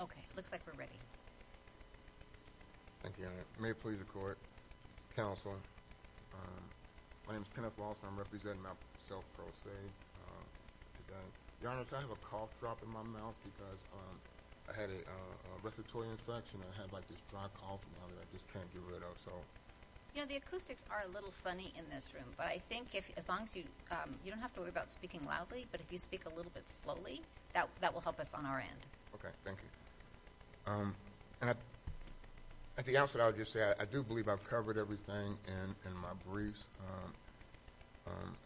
Okay, looks like we're ready Thank you, may it please the court, counsel, my name is Kenneth Lawson, I'm representing myself pro se Your Honor, I have a cough drop in my mouth because I had a respiratory infection I had like this dry cough and I just can't get rid of so You know the acoustics are a little funny in this room But I think if as long as you you don't have to worry about speaking loudly But if you speak a little bit slowly that that will help us on our end And at the outset, I'll just say I do believe I've covered everything in my briefs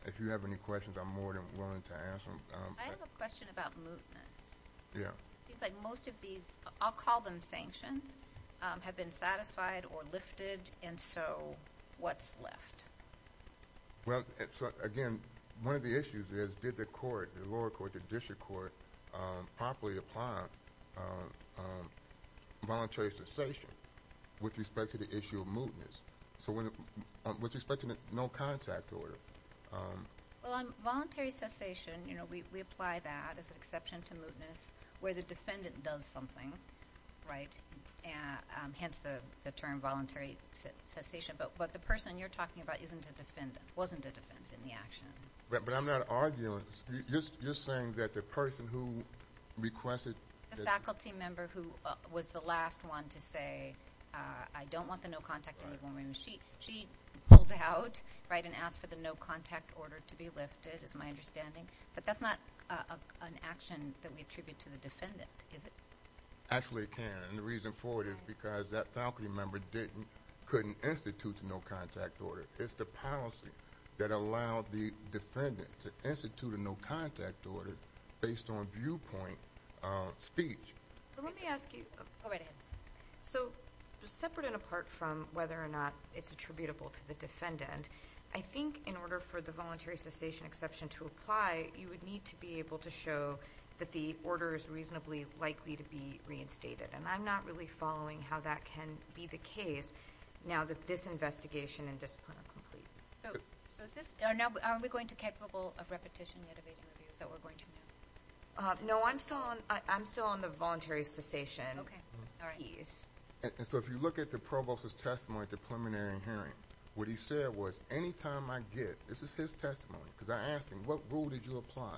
If you have any questions, I'm more than willing to answer them I have a question about mootness Yeah, it's like most of these I'll call them sanctions have been satisfied or lifted. And so what's left? Well, again, one of the issues is did the court, the lower court, the district court Properly apply Voluntary cessation with respect to the issue of mootness. So when with respect to the no contact order Well on voluntary cessation, you know, we apply that as an exception to mootness where the defendant does something, right? Hence the term voluntary Cessation, but what the person you're talking about isn't a defendant, wasn't a defendant in the action. But I'm not arguing You're saying that the person who Requested. The faculty member who was the last one to say I don't want the no contact any more She pulled out, right, and asked for the no contact order to be lifted is my understanding But that's not an action that we attribute to the defendant, is it? Actually, it can and the reason for it is because that faculty member couldn't institute the no contact order It's the policy that allowed the defendant to institute a no contact order based on viewpoint Speech. Let me ask you So separate and apart from whether or not it's attributable to the defendant I think in order for the voluntary cessation exception to apply you would need to be able to show that the order is reasonably Likely to be reinstated and I'm not really following how that can be the case now that this investigation and discipline are complete So is this, are we going to be capable of repetition yet of interviews that we're going to do? No, I'm still on I'm still on the voluntary cessation So if you look at the provost's testimony at the preliminary hearing what he said was anytime I get, this is his testimony Because I asked him what rule did you apply?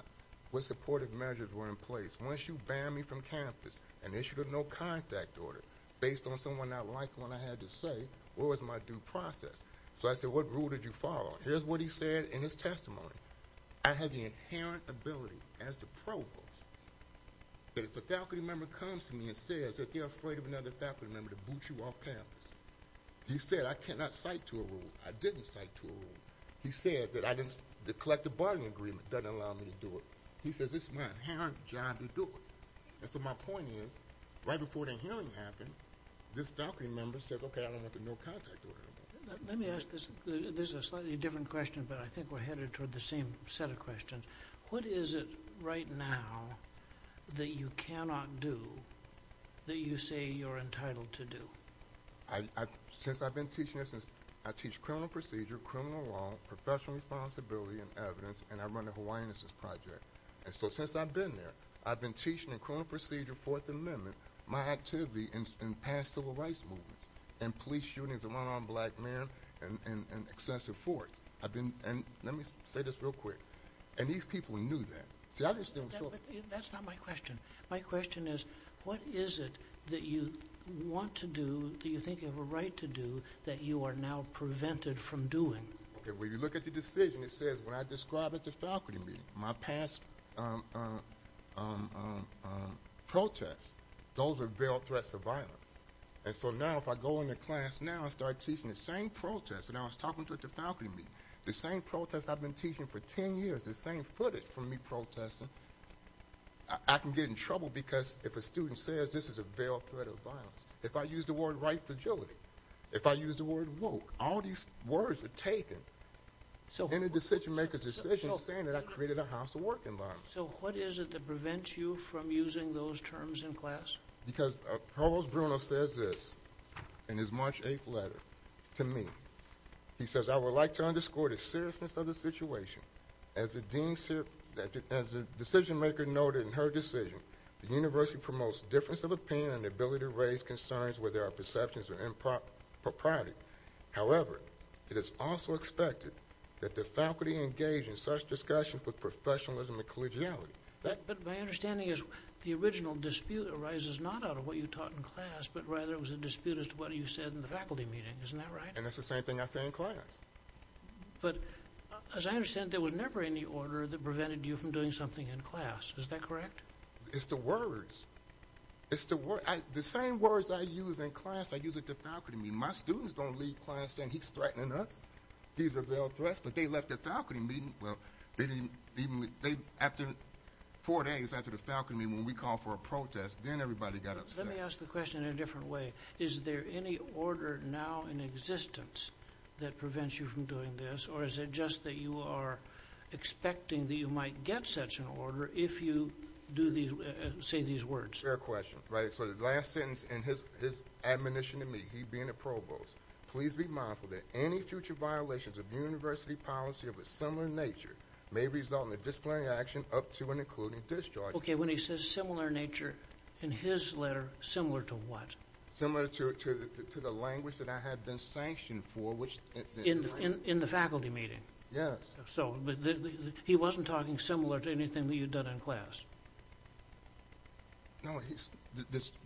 What supportive measures were in place once you ban me from campus and issued a no contact order Based on someone not like when I had to say what was my due process? So I said what rule did you follow? Here's what he said in his testimony. I had the inherent ability as the provost That if a faculty member comes to me and says that they're afraid of another faculty member to boot you off campus He said I cannot cite to a rule. I didn't cite to a rule He said that I didn't, the collective bargaining agreement doesn't allow me to do it. He says it's my inherent job to do it And so my point is right before the hearing happened this faculty member says, okay, I don't want the no contact order Let me ask this. This is a slightly different question, but I think we're headed toward the same set of questions. What is it right now? That you cannot do That you say you're entitled to do? Since I've been teaching this, I teach criminal procedure, criminal law, professional responsibility and evidence, and I run the Hawaiinuses project And so since I've been there I've been teaching in criminal procedure, Fourth Amendment, my activity in past civil rights movements and police shootings and run-on black man and Excessive force. I've been, and let me say this real quick, and these people knew that. That's not my question. My question is what is it that you Want to do, do you think you have a right to do, that you are now prevented from doing? Okay, when you look at the decision, it says when I describe at the faculty meeting my past Protests, those are veiled threats of violence And so now if I go in the class now and start teaching the same protests And I was talking to at the faculty meeting, the same protests I've been teaching for 10 years, the same footage from me protesting I can get in trouble because if a student says this is a veiled threat of violence, if I use the word right fragility, If I use the word woke, all these words are taken So any decision-maker's decision is saying that I created a hostile work environment. So what is it that prevents you from using those terms in class? Because Provost Bruno says this in his March 8th letter to me He says I would like to underscore the seriousness of the situation. As the decision-maker noted in her decision, The university promotes difference of opinion and the ability to raise concerns where there are perceptions that are impropriety. However, it is also expected that the faculty engage in such discussions with professionalism and collegiality. But my understanding is the original dispute arises not out of what you taught in class, But rather it was a dispute as to what you said in the faculty meeting. Isn't that right? And that's the same thing I say in class. But as I understand there was never any order that prevented you from doing something in class. Is that correct? It's the words. It's the same words I use in class. I use at the faculty meeting. My students don't leave class saying he's threatening us. He's a veiled threat, but they left the faculty meeting. Well, after four days after the faculty meeting when we called for a protest, then everybody got upset. Let me ask the question in a different way. Is there any order now in existence that prevents you from doing this? Or is it just that you are expecting that you might get such an order if you do these, say these words? Fair question. Right, so the last sentence in his admonition to me, he being a provost, Please be mindful that any future violations of university policy of a similar nature May result in a disciplinary action up to and including discharge. Okay, when he says similar nature in his letter, similar to what? Similar to the language that I had been sanctioned for. In the faculty meeting? Yes. So he wasn't talking similar to anything that you've done in class? No,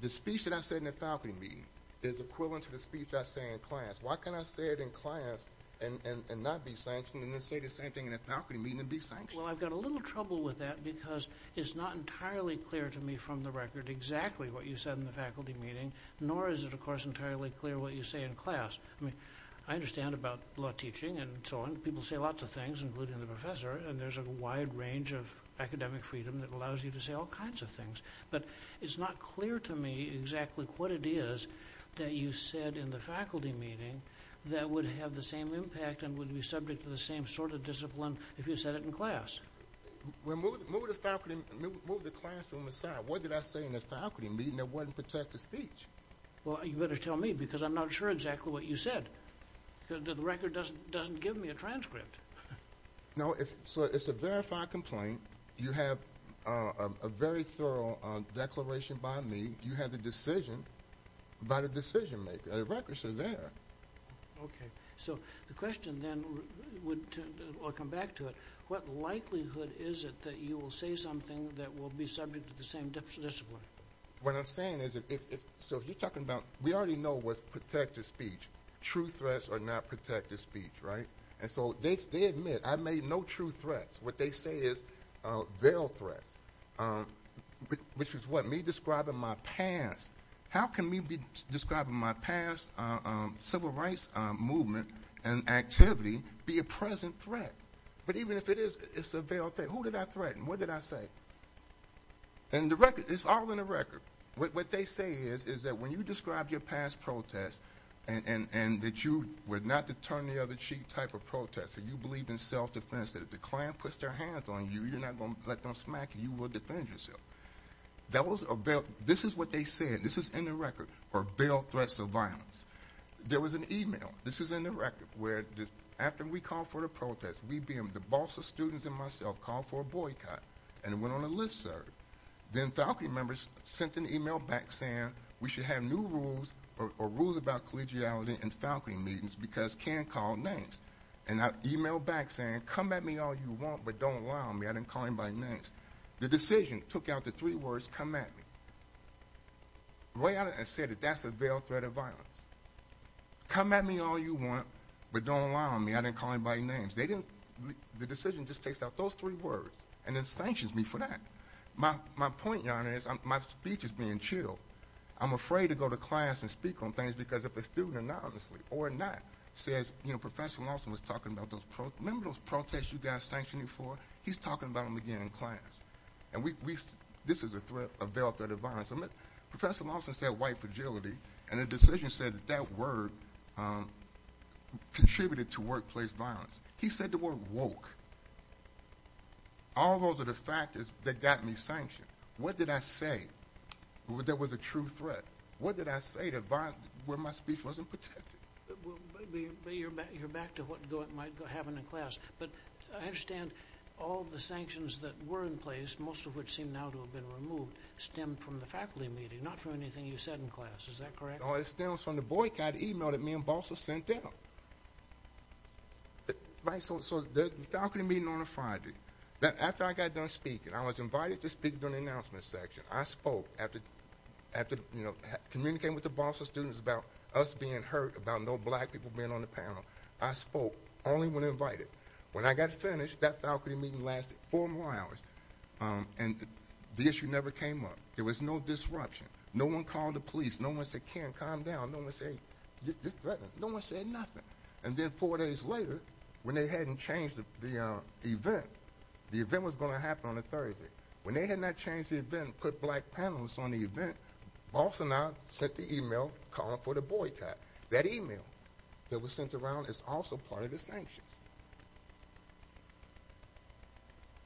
the speech that I said in the faculty meeting is equivalent to the speech I say in class. Why can't I say it in class and not be sanctioned and then say the same thing in a faculty meeting and be sanctioned? Well, I've got a little trouble with that because it's not entirely clear to me from the record exactly what you said in the faculty meeting, nor is it of course entirely clear what you say in class. I mean, I understand about law teaching and so on. People say lots of things, including the professor, and there's a wide range of academic freedom that allows you to say all kinds of things, but it's not clear to me exactly what it is that you said in the faculty meeting that would have the same impact and would be subject to the same sort of discipline if you said it in class. Well, move the classroom aside. What did I say in the faculty meeting that wouldn't protect the speech? Well, you better tell me because I'm not sure exactly what you said because the record doesn't give me a transcript. No, so it's a verified complaint. You have a very thorough declaration by me. You have the decision by the decision maker. The records are there. Okay, so the question then would, I'll come back to it, what likelihood is it that you will say something that will be subject to the same discipline? What I'm saying is if, so you're talking about, we already know what's protected speech. True threats are not protected speech, right? And so they admit I made no true threats. What they say is veiled threats, which is what, me describing my past. How can me describing my past civil rights movement and activity be a present threat? But even if it is, it's a veiled threat. Who did I threaten? What did I say? And the record, it's all in the record. What they say is that when you describe your past protests and that you were not the turn-the-other-cheek type of protester, you believed in self-defense, that if the client puts their hands on you, you're not going to let them smack you, you will defend yourself. That was a veiled, this is what they said, this is in the record, or veiled threats of violence. There was an email, this is in the record, where after we called for the protest, we, being the boss of students and myself, called for a boycott and it went on a listserv. Then faculty members sent an email back saying we should have new rules or rules about collegiality in faculty meetings because can't call names. And I emailed back saying, come at me all you want, but don't lie on me. I didn't call anybody names. The decision took out the three words, come at me. Right out of it, I said that that's a veiled threat of violence. Come at me all you want, but don't lie on me. I didn't call anybody names. They didn't, the decision just takes out those three words and then sanctions me for that. My point, Your Honor, is my speech is being chilled. I'm afraid to go to class and speak on things because if a student anonymously or not says, you know, Professor Lawson was talking about those, remember those protests you got sanctioned for? He's talking about them again in class. And we, this is a threat of veiled threat of violence. Professor Lawson said white fragility and the decision said that that word contributed to workplace violence. He said the word woke. All those are the factors that got me sanctioned. What did I say? That was a true threat. What did I say to violence where my speech wasn't protected? Well, but you're back to what might go happen in class. But I understand all the sanctions that were in place, most of which seem now to have been removed, stemmed from the faculty meeting, not from anything you said in class. Is that correct? Oh, it stems from the boycott email that me and Balsa sent out. Right, so the faculty meeting on a Friday, after I got done speaking, I was invited to speak during the announcement section. I spoke after after, you know, communicating with the Balsa students about us being hurt, about no black people being on the panel. I spoke only when invited. When I got finished, that faculty meeting lasted four more hours. And the issue never came up. There was no disruption. No one called the police. No one said, Ken, calm down. No one said, you're threatening. No one said nothing. And then four days later, when they hadn't changed the event, the event was going to happen on a Thursday. When they had not changed the event, put black panelists on the event, Balsa now sent the email calling for the boycott. That email that was sent around is also part of the sanctions.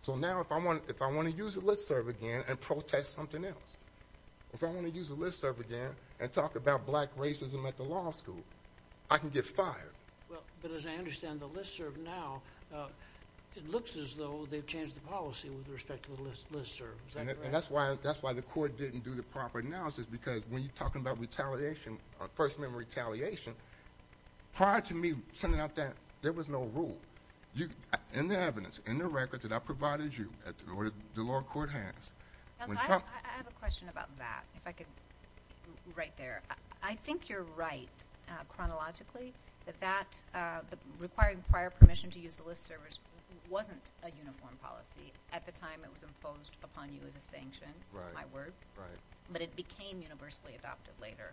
So now if I want to use the listserv again and protest something else, if I want to use the listserv again and talk about black racism at the law school, I can get fired. Well, but as I understand the listserv now, it looks as though they've changed the policy with respect to the listserv. And that's why that's why the court didn't do the proper analysis because when you're talking about retaliation, personal retaliation, prior to me sending out that, there was no rule. In the evidence, in the record that I provided you, the lower court has. I have a question about that, if I could write there. I think you're right chronologically that that, the requiring prior permission to use the listserv wasn't a uniform policy at the time it was imposed upon you as a sanction, my word, but it became universally adopted later.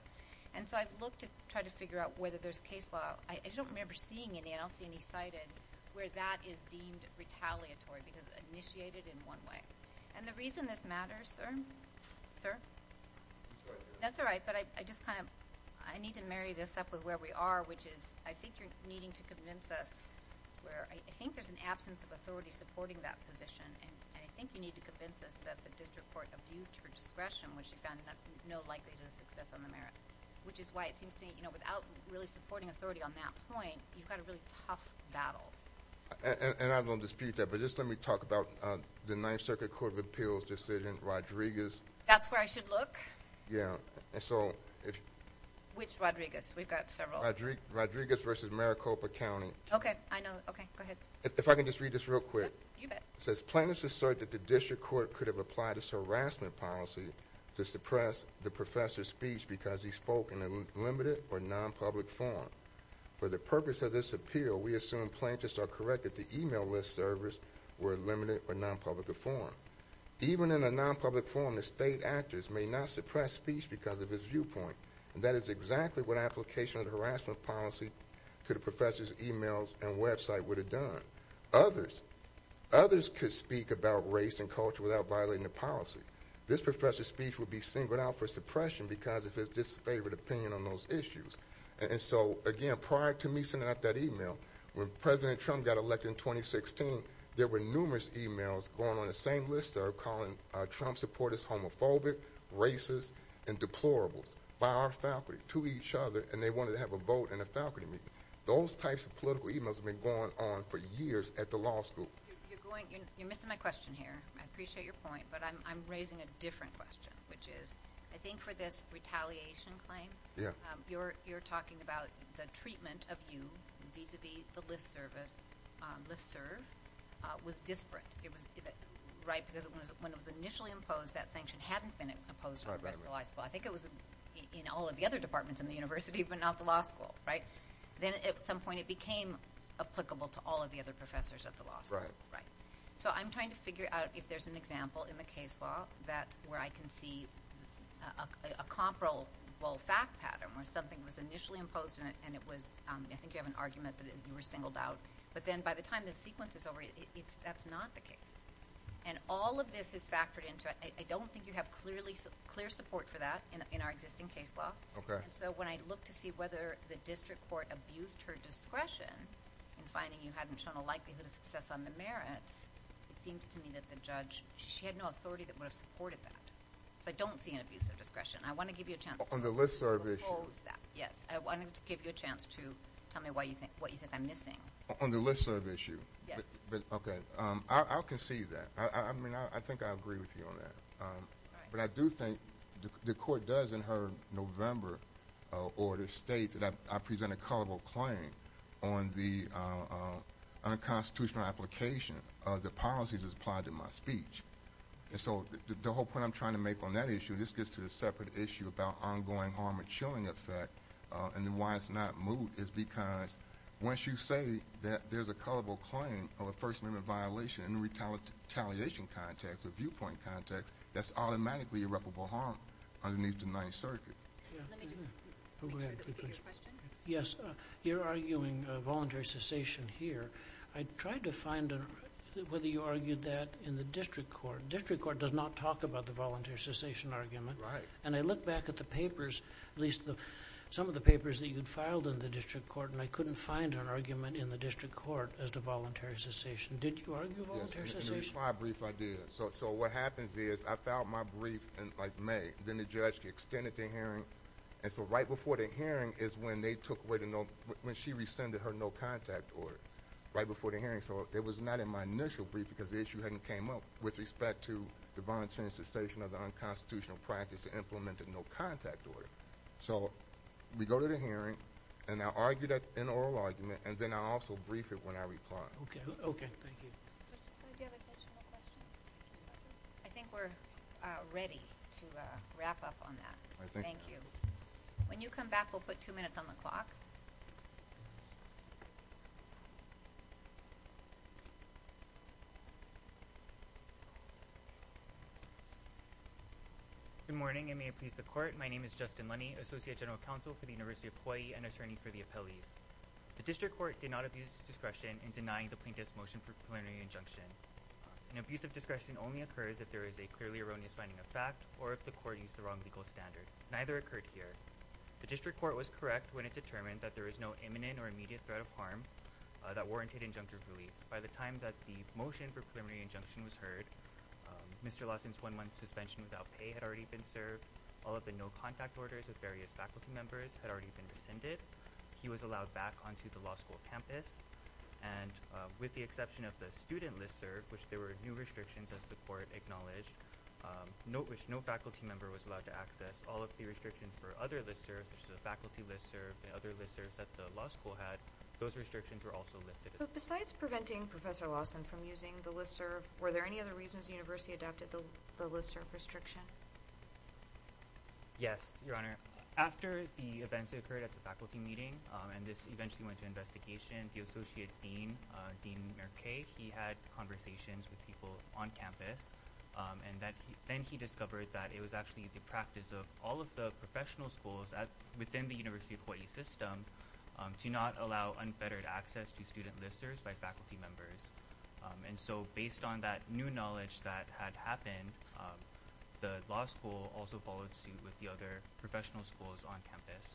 And so I've looked to try to figure out whether there's case law, I don't remember seeing any, I don't see any cited where that is deemed retaliatory because initiated in one way. And the reason this matters, sir? Sir? That's all right, but I just kind of, I need to marry this up with where we are, which is I think you're needing to convince us where I think there's an absence of authority supporting that position. And I think you need to convince us that the district court abused her discretion, which again, no likelihood of success on the merits, which is why it seems to me, you know, without really supporting authority on that point, you've got a really tough battle. And I don't dispute that, but just let me talk about the Ninth Circuit Court of Appeals decision, Rodriguez. That's where I should look? Yeah. And so, Which Rodriguez? We've got several. Rodriguez versus Maricopa County. Okay. I know. Okay, go ahead. If I can just read this real quick. You bet. It says plaintiffs assert that the district court could have applied this harassment policy to suppress the professor's speech because he spoke in a limited or non-public form. For the purpose of this appeal, we assume plaintiffs are correct that the email list servers were limited or non-public of form. Even in a non-public form, the state actors may not suppress speech because of his viewpoint. And that is exactly what application of the harassment policy to the professor's emails and website would have done. Others, others could speak about race and culture without violating the policy. This professor's speech would be singled out for suppression because of his disfavored opinion on those issues. And so again, prior to me sending out that email, when President Trump got elected in 2016, there were numerous emails going on the same listserv calling Trump supporters homophobic, racist, and deplorables by our faculty to each other and they wanted to have a vote in a faculty meeting. Those types of political emails have been going on for years at the law school. You're going, you're missing my question here. I appreciate your point, but I'm raising a different question, which is, I think for this retaliation claim, you're, you're talking about the treatment of you vis-a-vis the list service, listserv, was disparate. It was, right, because when it was initially imposed, that sanction hadn't been imposed on the rest of the law school. I think it was in all of the other departments in the university, but not the law school, right? Then at some point it became applicable to all of the other professors at the law school, right? So I'm trying to figure out if there's an example in the case law that, where I can see a comparable fact pattern where something was initially imposed on it and it was, I think you have an argument that you were singled out, but then by the time the sequence is over, that's not the case. And all of this is factored into, I don't think you have clearly, clear support for that in our existing case law. Okay. And so when I look to see whether the district court abused her discretion in finding you hadn't shown a likelihood of success on the merits, it seems to me that the judge, she had no authority that would have supported that. So I don't see an abuse of discretion. I want to give you a chance. On the listserv issue. Yes. I wanted to give you a chance to tell me why you think, what you think I'm missing. On the listserv issue. Yes. Okay. I'll concede that. I mean, I think I agree with you on that. But I do think the court does in her November order state that I present a culpable claim on the unconstitutional application of the policies applied in my speech. And so the whole point I'm trying to make on that issue, this gets to a separate issue about ongoing harm and chilling effect. And why it's not moved is because once you say that there's a culpable claim of a first amendment violation in the retaliation context, the viewpoint context, that's automatically irreparable harm underneath the Ninth Circuit. Yes, you're arguing a voluntary cessation here. I tried to find whether you argued that in the district court. District court does not talk about the voluntary cessation argument. Right. And I look back at the papers, at least some of the papers that you'd filed in the district court, and I couldn't find an argument in the district court as to voluntary cessation. Did you argue voluntary cessation? Yes. In the reply brief I did. So what happens is I filed my brief in like May. Then the judge extended the hearing. And so right before the hearing is when they took away the no, when she rescinded her no contact order. Right before the hearing. So it was not in my initial brief because the issue hadn't came up with respect to the voluntary cessation of the unconstitutional practice to implement a no contact order. So we go to the hearing and I argue that in oral argument and then I also brief it when I reply. Okay. Okay. Thank you. I think we're ready to wrap up on that. Thank you. When you come back, we'll put two minutes on the clock. Good morning, and may it please the court. My name is Justin Lenny, associate general counsel for the University of Hawaii and attorney for the appellees. The district court did not abuse discretion in denying the plaintiff's motion for preliminary injunction. An abuse of discretion only occurs if there is a clearly erroneous finding of fact or if the court used the wrong legal standard. Neither occurred here. The district court was correct when it determined that there is no imminent or immediate threat of harm that warranted injunctive relief. By the time that the motion for preliminary injunction was heard, Mr. Lawson's one month suspension without pay had already been served. All of the no contact orders with various faculty members had already been rescinded. He was allowed back onto the law school campus. And with the exception of the student listserv, which there were new restrictions as the court acknowledged, which no faculty member was allowed to access, all of the restrictions for other listservs, the faculty listserv and other listservs that the law school had, those restrictions were also lifted. But besides preventing Professor Lawson from using the listserv, were there any other reasons the university adopted the listserv restriction? Yes, your honor. After the events that occurred at the faculty meeting, and this eventually went to investigation, the associate dean, Dean Merkay, he had conversations with people on campus. And then he discovered that it was actually the practice of all of the professional schools within the University of Hawaii system to not allow unfettered access to student listservs by faculty members. And so based on that new knowledge that had happened, the law school also followed suit with the other professional schools on campus.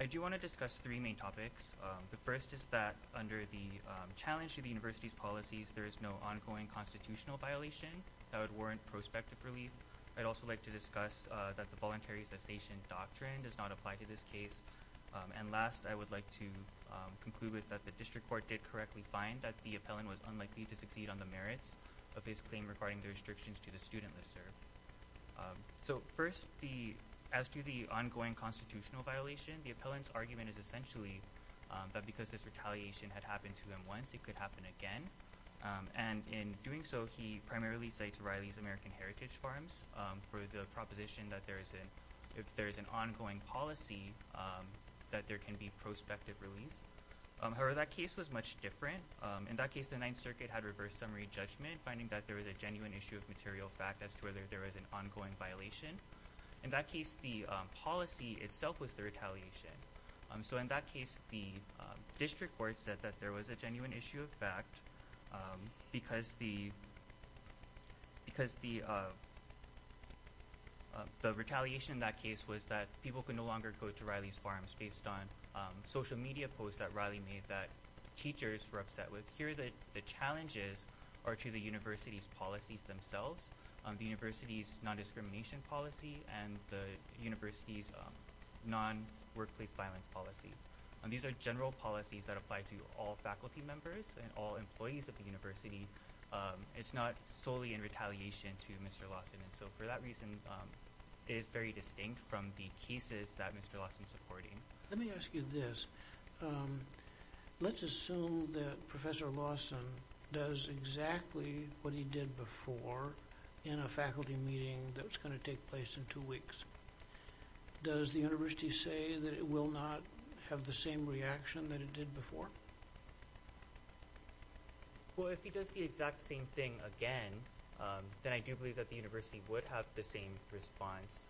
I do want to discuss three main topics. The first is that under the challenge to the university's policies, there is no ongoing constitutional violation that would warrant prospective relief. I'd also like to discuss that the voluntary cessation doctrine does not apply to this case. And last, I would like to conclude with that the district court did correctly find that the appellant was unlikely to succeed on the merits of his claim regarding the restrictions to the student listserv. So first, as to the ongoing constitutional violation, the appellant's argument is essentially that because this retaliation had happened to them once, it could happen again. And in doing so, he primarily cites Riley's American Heritage Farms for the proposition that if there is an ongoing policy, that there can be prospective relief. However, that case was much different. In that case, the Ninth Circuit had reverse summary judgment, finding that there was a genuine issue of material fact as to whether there was an ongoing violation. In that case, the policy itself was the retaliation. So in that case, the district court said that there was a genuine issue of fact because the because the the retaliation in that case was that people could no longer go to Riley's Farms based on social media posts that Riley made that teachers were upset with. Here, the challenges are to the university's policies themselves. The university's non-discrimination policy and the university's non-workplace violence policy. These are general policies that apply to all faculty members and all employees of the university. It's not solely in retaliation to Mr. Lawson. And so for that reason, it is very distinct from the cases that Mr. Lawson is supporting. Let me ask you this. Let's assume that Professor Lawson does exactly what he did before in a faculty meeting that was going to take place in two weeks. Does the university say that it will not have the same reaction that it did before? Well, if he does the exact same thing again, then I do believe that the university would have the same response.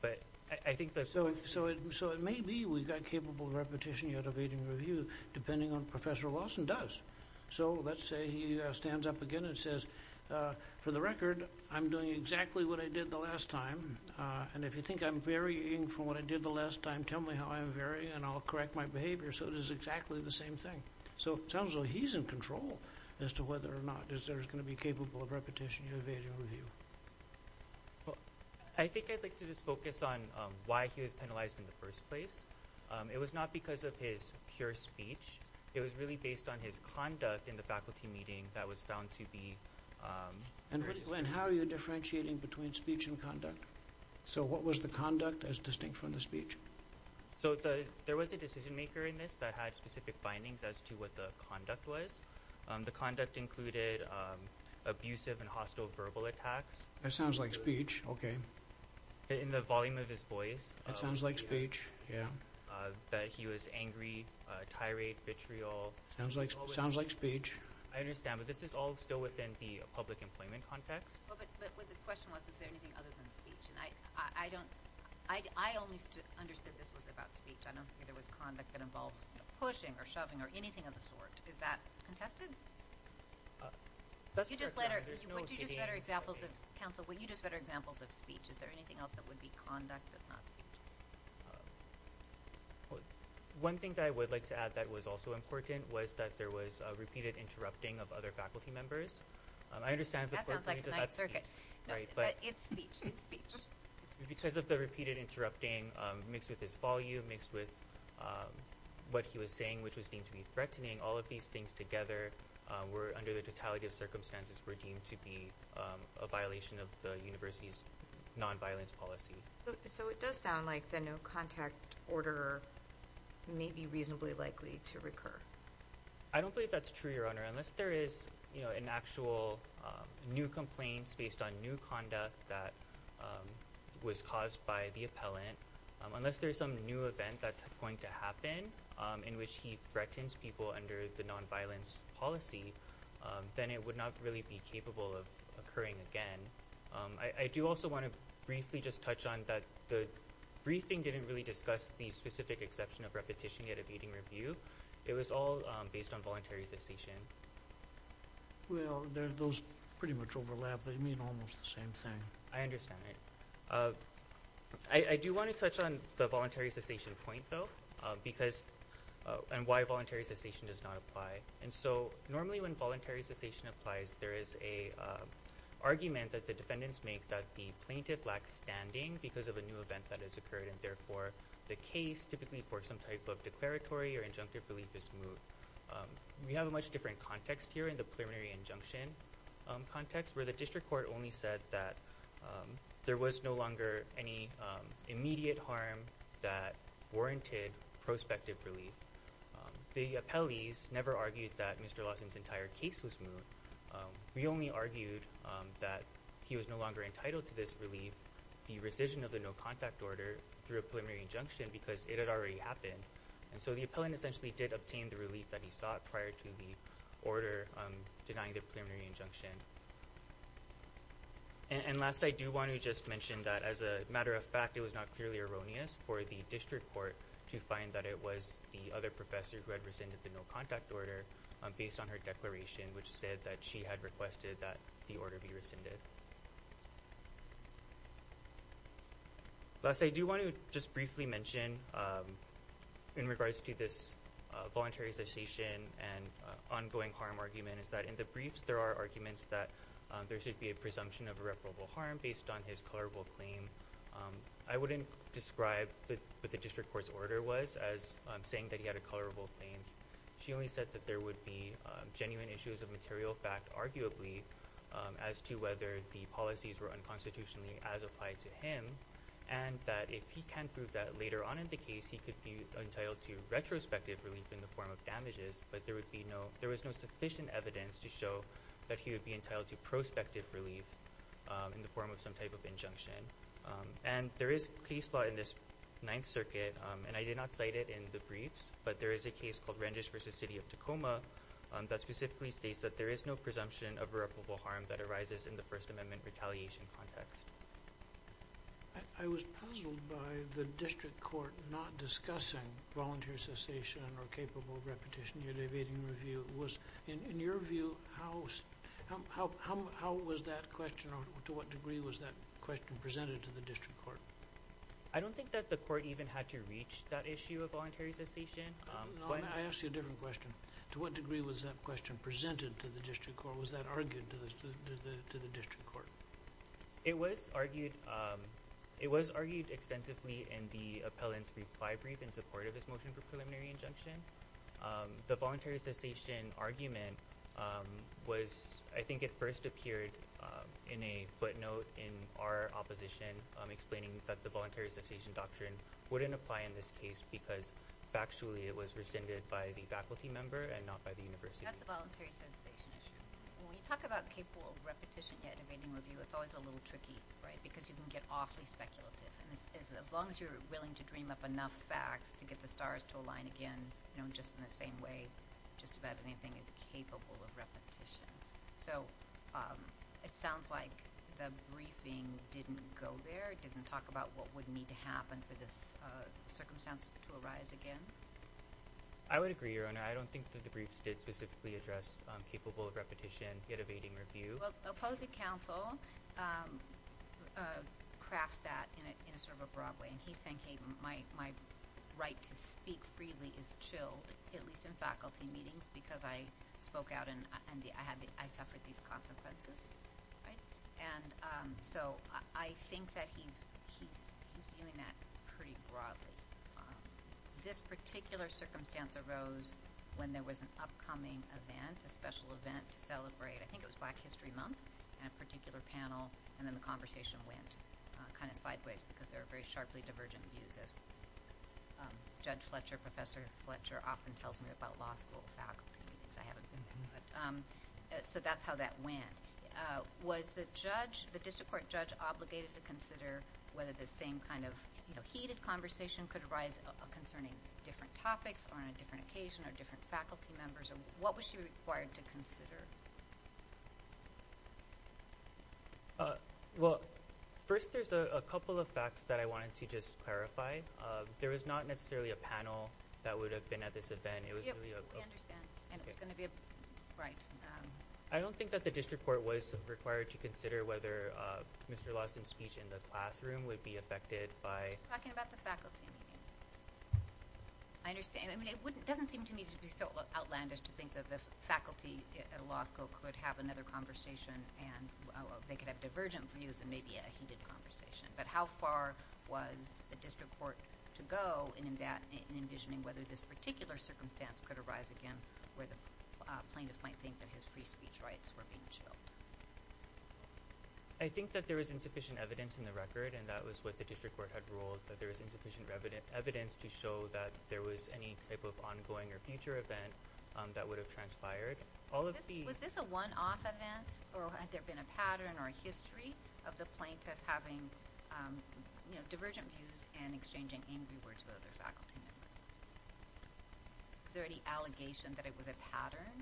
But I think that's so so so it may be we've got capable repetition yet evading review depending on Professor Lawson does. So let's say he stands up again and says, for the record, I'm doing exactly what I did the last time. And if you think I'm varying from what I did the last time, tell me how I'm varying and I'll correct my behavior. So it is exactly the same thing. So it sounds like he's in control as to whether or not there's going to be capable of repetition or evading review. Well, I think I'd like to just focus on why he was penalized in the first place. It was not because of his pure speech. It was really based on his conduct in the faculty meeting that was found to be And how are you differentiating between speech and conduct? So what was the conduct as distinct from the speech? So the there was a decision maker in this that had specific findings as to what the conduct was the conduct included Abusive and hostile verbal attacks. That sounds like speech. Okay In the volume of his voice, it sounds like speech. Yeah That he was angry Uh tirade vitriol sounds like sounds like speech I understand but this is all still within the public employment context Well, but but the question was is there anything other than speech and I I don't I I only understood this was about speech I don't think there was conduct that involved, you know, pushing or shoving or anything of the sort. Is that contested? You just let her you put you just better examples of counsel when you just better examples of speech Is there anything else that would be conduct? Um One thing that I would like to add that was also important was that there was a repeated interrupting of other faculty members I understand Because of the repeated interrupting mixed with his volume mixed with What he was saying which was deemed to be threatening all of these things together Were under the totality of circumstances were deemed to be a violation of the university's Non-violence policy. So it does sound like the no contact order May be reasonably likely to recur I don't believe that's true your honor unless there is, you know an actual new complaints based on new conduct that Was caused by the appellant Unless there's some new event that's going to happen in which he threatens people under the non-violence policy Then it would not really be capable of occurring again I I do also want to briefly just touch on that the Briefing didn't really discuss the specific exception of repetition yet evading review. It was all based on voluntary cessation Well, there's those pretty much overlap they mean almost the same thing I understand it I I do want to touch on the voluntary cessation point though because and why voluntary cessation does not apply and so normally when voluntary cessation applies there is a Argument that the defendants make that the plaintiff lacks standing because of a new event that has occurred and therefore The case typically for some type of declaratory or injunctive relief is moot We have a much different context here in the preliminary injunction context where the district court only said that There was no longer any immediate harm that warranted prospective relief The appellees never argued that Mr. Lawson's entire case was moot We only argued that he was no longer entitled to this relief The rescission of the no contact order through a preliminary injunction because it had already happened And so the appellant essentially did obtain the relief that he sought prior to the order denying the preliminary injunction And last I do want to just mention that as a matter of fact It was not clearly erroneous for the district court to find that it was the other professor who had rescinded the no contact order Based on her declaration which said that she had requested that the order be rescinded Last I do want to just briefly mention in regards to this voluntary cessation and Ongoing harm argument is that in the briefs there are arguments that there should be a presumption of irreparable harm based on his colorable claim I wouldn't describe what the district court's order was as saying that he had a colorable claim She only said that there would be genuine issues of material fact arguably As to whether the policies were unconstitutionally as applied to him And that if he can prove that later on in the case He could be entitled to retrospective relief in the form of damages But there would be no there was no sufficient evidence to show that he would be entitled to prospective relief in the form of some type of injunction And there is case law in this ninth circuit and I did not cite it in the briefs But there is a case called randish versus city of tacoma That specifically states that there is no presumption of irreparable harm that arises in the first amendment retaliation context I was puzzled by the district court not discussing volunteer cessation or capable repetition You're debating review was in your view house How how how was that question or to what degree was that question presented to the district court? I don't think that the court even had to reach that issue of voluntary cessation I asked you a different question to what degree was that question presented to the district court was that argued to the to the district court It was argued. Um It was argued extensively in the appellant's reply brief in support of this motion for preliminary injunction the voluntary cessation argument Was I think it first appeared? Um in a footnote in our opposition, um explaining that the voluntary cessation doctrine wouldn't apply in this case because Factually, it was rescinded by the faculty member and not by the university. That's a voluntary cessation issue When you talk about capable repetition yet debating review It's always a little tricky right because you can get awfully speculative And as long as you're willing to dream up enough facts to get the stars to align again, you know Just in the same way just about anything is capable of repetition So, um, it sounds like the briefing didn't go there didn't talk about what would need to happen for this Circumstance to arise again I would agree your honor. I don't think that the briefs did specifically address capable of repetition yet evading review. Well opposing council Crafts that in a sort of a broad way and he's saying hey my my Right to speak freely is chilled at least in faculty meetings because I Spoke out and I had I suffered these consequences right, and um, so I think that he's he's he's doing that pretty broadly, um, This particular circumstance arose when there was an upcoming event a special event to celebrate I think it was black history month and a particular panel and then the conversation went Kind of sideways because there are very sharply divergent views as Judge fletcher professor fletcher often tells me about law school faculty meetings. I haven't been there. But um, So that's how that went Was the judge the district court judge obligated to consider whether the same kind of you know Heated conversation could arise concerning different topics or on a different occasion or different faculty members or what was she required to consider? Uh, well First there's a couple of facts that I wanted to just clarify There was not necessarily a panel that would have been at this event. It was really And it's going to be a right I don't think that the district court was required to consider whether uh, mr Lawson speech in the classroom would be affected by talking about the faculty I understand. I mean it wouldn't doesn't seem to me to be so outlandish to think that the faculty At a law school could have another conversation and They could have divergent views and maybe a heated conversation But how far was the district court to go in that in envisioning whether this particular circumstance could arise again where the? plaintiff might think that his free speech rights were being showed I think that there was insufficient evidence in the record and that was what the district court had ruled that there was insufficient Evidence to show that there was any type of ongoing or future event That would have transpired all of these was this a one-off event or had there been a pattern or a history of the plaintiff having You know divergent views and exchanging angry words with other faculty Is there any allegation that it was a pattern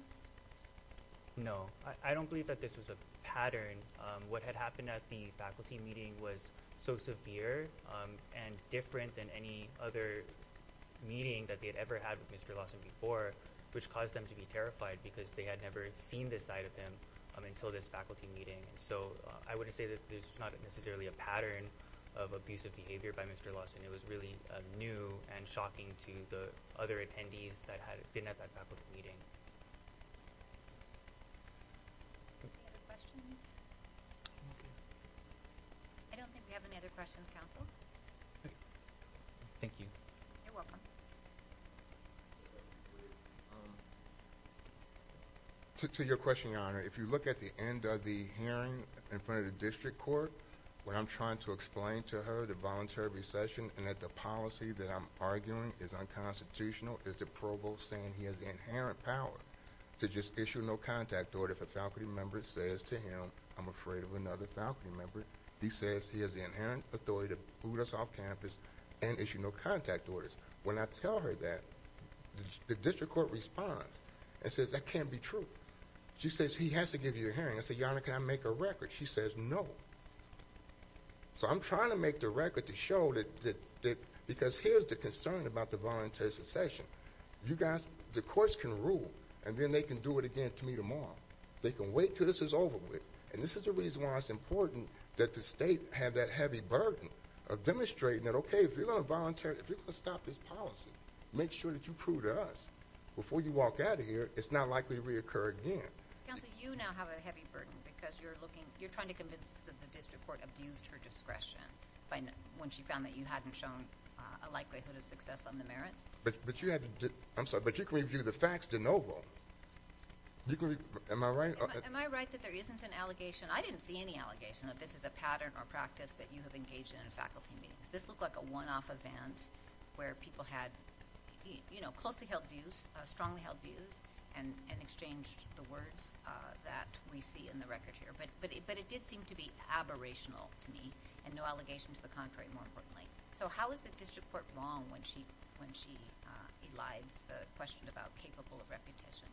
No, I don't believe that this was a pattern. Um, what had happened at the faculty meeting was so severe and different than any other Meeting that they had ever had with mr Lawson before which caused them to be terrified because they had never seen this side of them Until this faculty meeting and so I wouldn't say that there's not necessarily a pattern of abusive behavior by mr Lawson, it was really new and shocking to the other attendees that had been at that faculty meeting I don't think we have any other questions counsel Thank you, you're welcome To your question your honor if you look at the end of the hearing in front of the district court What i'm trying to explain to her the voluntary recession and that the policy that i'm arguing is unconstitutional Is the provost saying he has inherent power? To just issue no contact order if a faculty member says to him i'm afraid of another faculty member He says he has inherent authority to boot us off campus and issue no contact orders when I tell her that The district court responds and says that can't be true She says he has to give you a hearing. I said your honor. Can I make a record? She says no So i'm trying to make the record to show that that Because here's the concern about the voluntary secession You guys the courts can rule and then they can do it again to me tomorrow They can wait till this is over with and this is the reason why it's important that the state have that heavy burden Of demonstrating that okay, if you're going to volunteer if you're going to stop this policy Make sure that you prove to us before you walk out of here. It's not likely to reoccur again Counsel, you now have a heavy burden because you're looking you're trying to convince us that the district court abused her discretion When she found that you hadn't shown a likelihood of success on the merits, but but you had to do i'm sorry But you can review the facts de novo You can am I right am I right that there isn't an allegation I didn't see any allegation that this is a pattern or practice that you have engaged in in faculty meetings This looked like a one-off event where people had You know closely held views strongly held views and and exchanged the words, uh that we see in the record here But but but it did seem to be aberrational to me and no allegation to the contrary more importantly So, how is the district court wrong when she when she uh elides the question about capable of reputation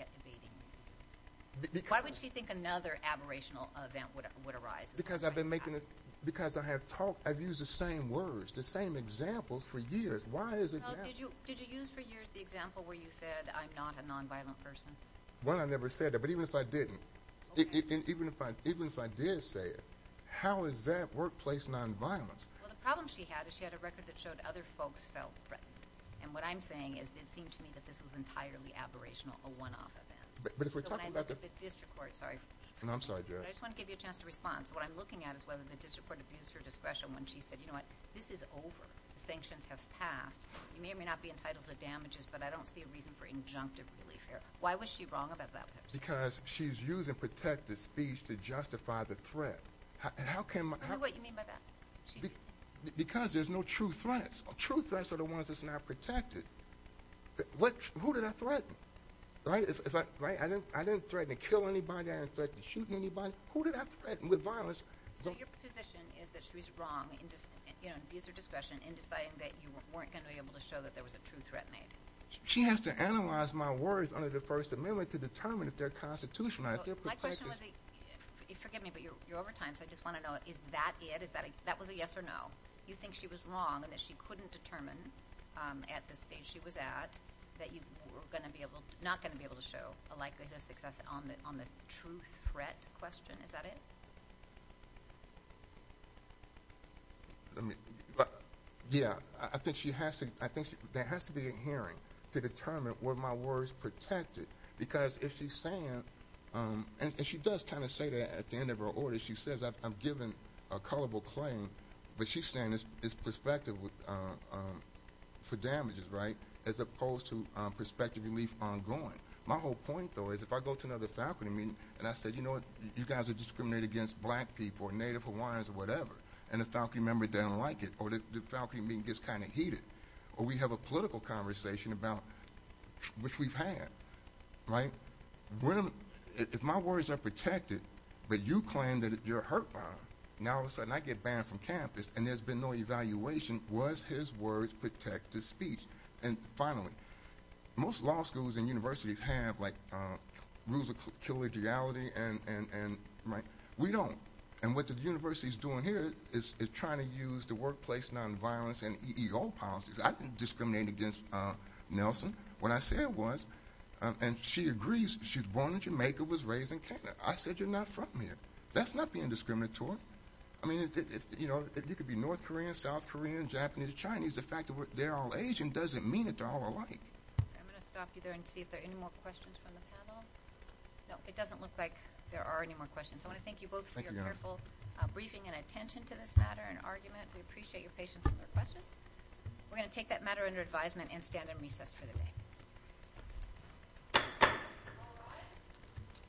yet debating Why would she think another aberrational event would arise because i've been making it because I have talked i've used the same words the same Examples for years. Why is it? Did you did you use for years the example where you said i'm not a non-violent person? Well, I never said that but even if I didn't Even if I even if I did say it, how is that workplace non-violence? Well, the problem she had is she had a record that showed other folks felt threatened And what i'm saying is it seemed to me that this was entirely aberrational a one-off event But if we're talking about the district court, sorry, and i'm sorry I just want to give you a chance to respond So what i'm looking at is whether the district court abused her discretion when she said you know what this is over The sanctions have passed you may or may not be entitled to damages, but I don't see a reason for injunctive relief here Why was she wrong about that because she's using protective speech to justify the threat How can what you mean by that? Because there's no true threats true threats are the ones that's not protected What who did I threaten? Right, if I right, I didn't I didn't threaten to kill anybody. I didn't threaten shooting anybody. Who did I threaten with violence? So your position is that she's wrong and just you know Abuse her discretion in deciding that you weren't going to be able to show that there was a true threat made She has to analyze my words under the first amendment to determine if they're constitutional My question was Forgive me, but you're over time. So I just want to know is that it is that that was a yes or no? You think she was wrong and that she couldn't determine um at the stage she was at That you were going to be able not going to be able to show a likelihood of success on the on the truth threat question Is that it? Let me but Yeah, I think she has to I think there has to be a hearing to determine were my words protected because if she's saying Um, and she does kind of say that at the end of her order She says i'm giving a culpable claim, but she's saying it's perspective with uh, um For damages right as opposed to perspective relief ongoing My whole point though is if I go to another faculty meeting and I said, you know You guys are discriminated against black people or native hawaiians or whatever and the faculty member don't like it Or the faculty meeting gets kind of heated or we have a political conversation about Which we've had Right When if my words are protected, but you claim that you're hurt by now all of a sudden I get banned from campus And there's been no evaluation was his words protect his speech and finally most law schools and universities have like, uh, Rules of collegiality and and and right we don't and what the university is doing here Is is trying to use the workplace non-violence and ego policies. I didn't discriminate against. Uh, nelson when I said was And she agrees. She's born in jamaica was raised in canada. I said you're not from here. That's not being discriminatory I mean if you know if you could be north korean south korean japanese chinese the fact that they're all asian doesn't mean That they're all alike I'm going to stop you there and see if there are any more questions from the panel No, it doesn't look like there are any more questions. I want to thank you both for your careful Briefing and attention to this matter and argument. We appreciate your patience with their questions We're going to take that matter under advisement and stand in recess for the day All right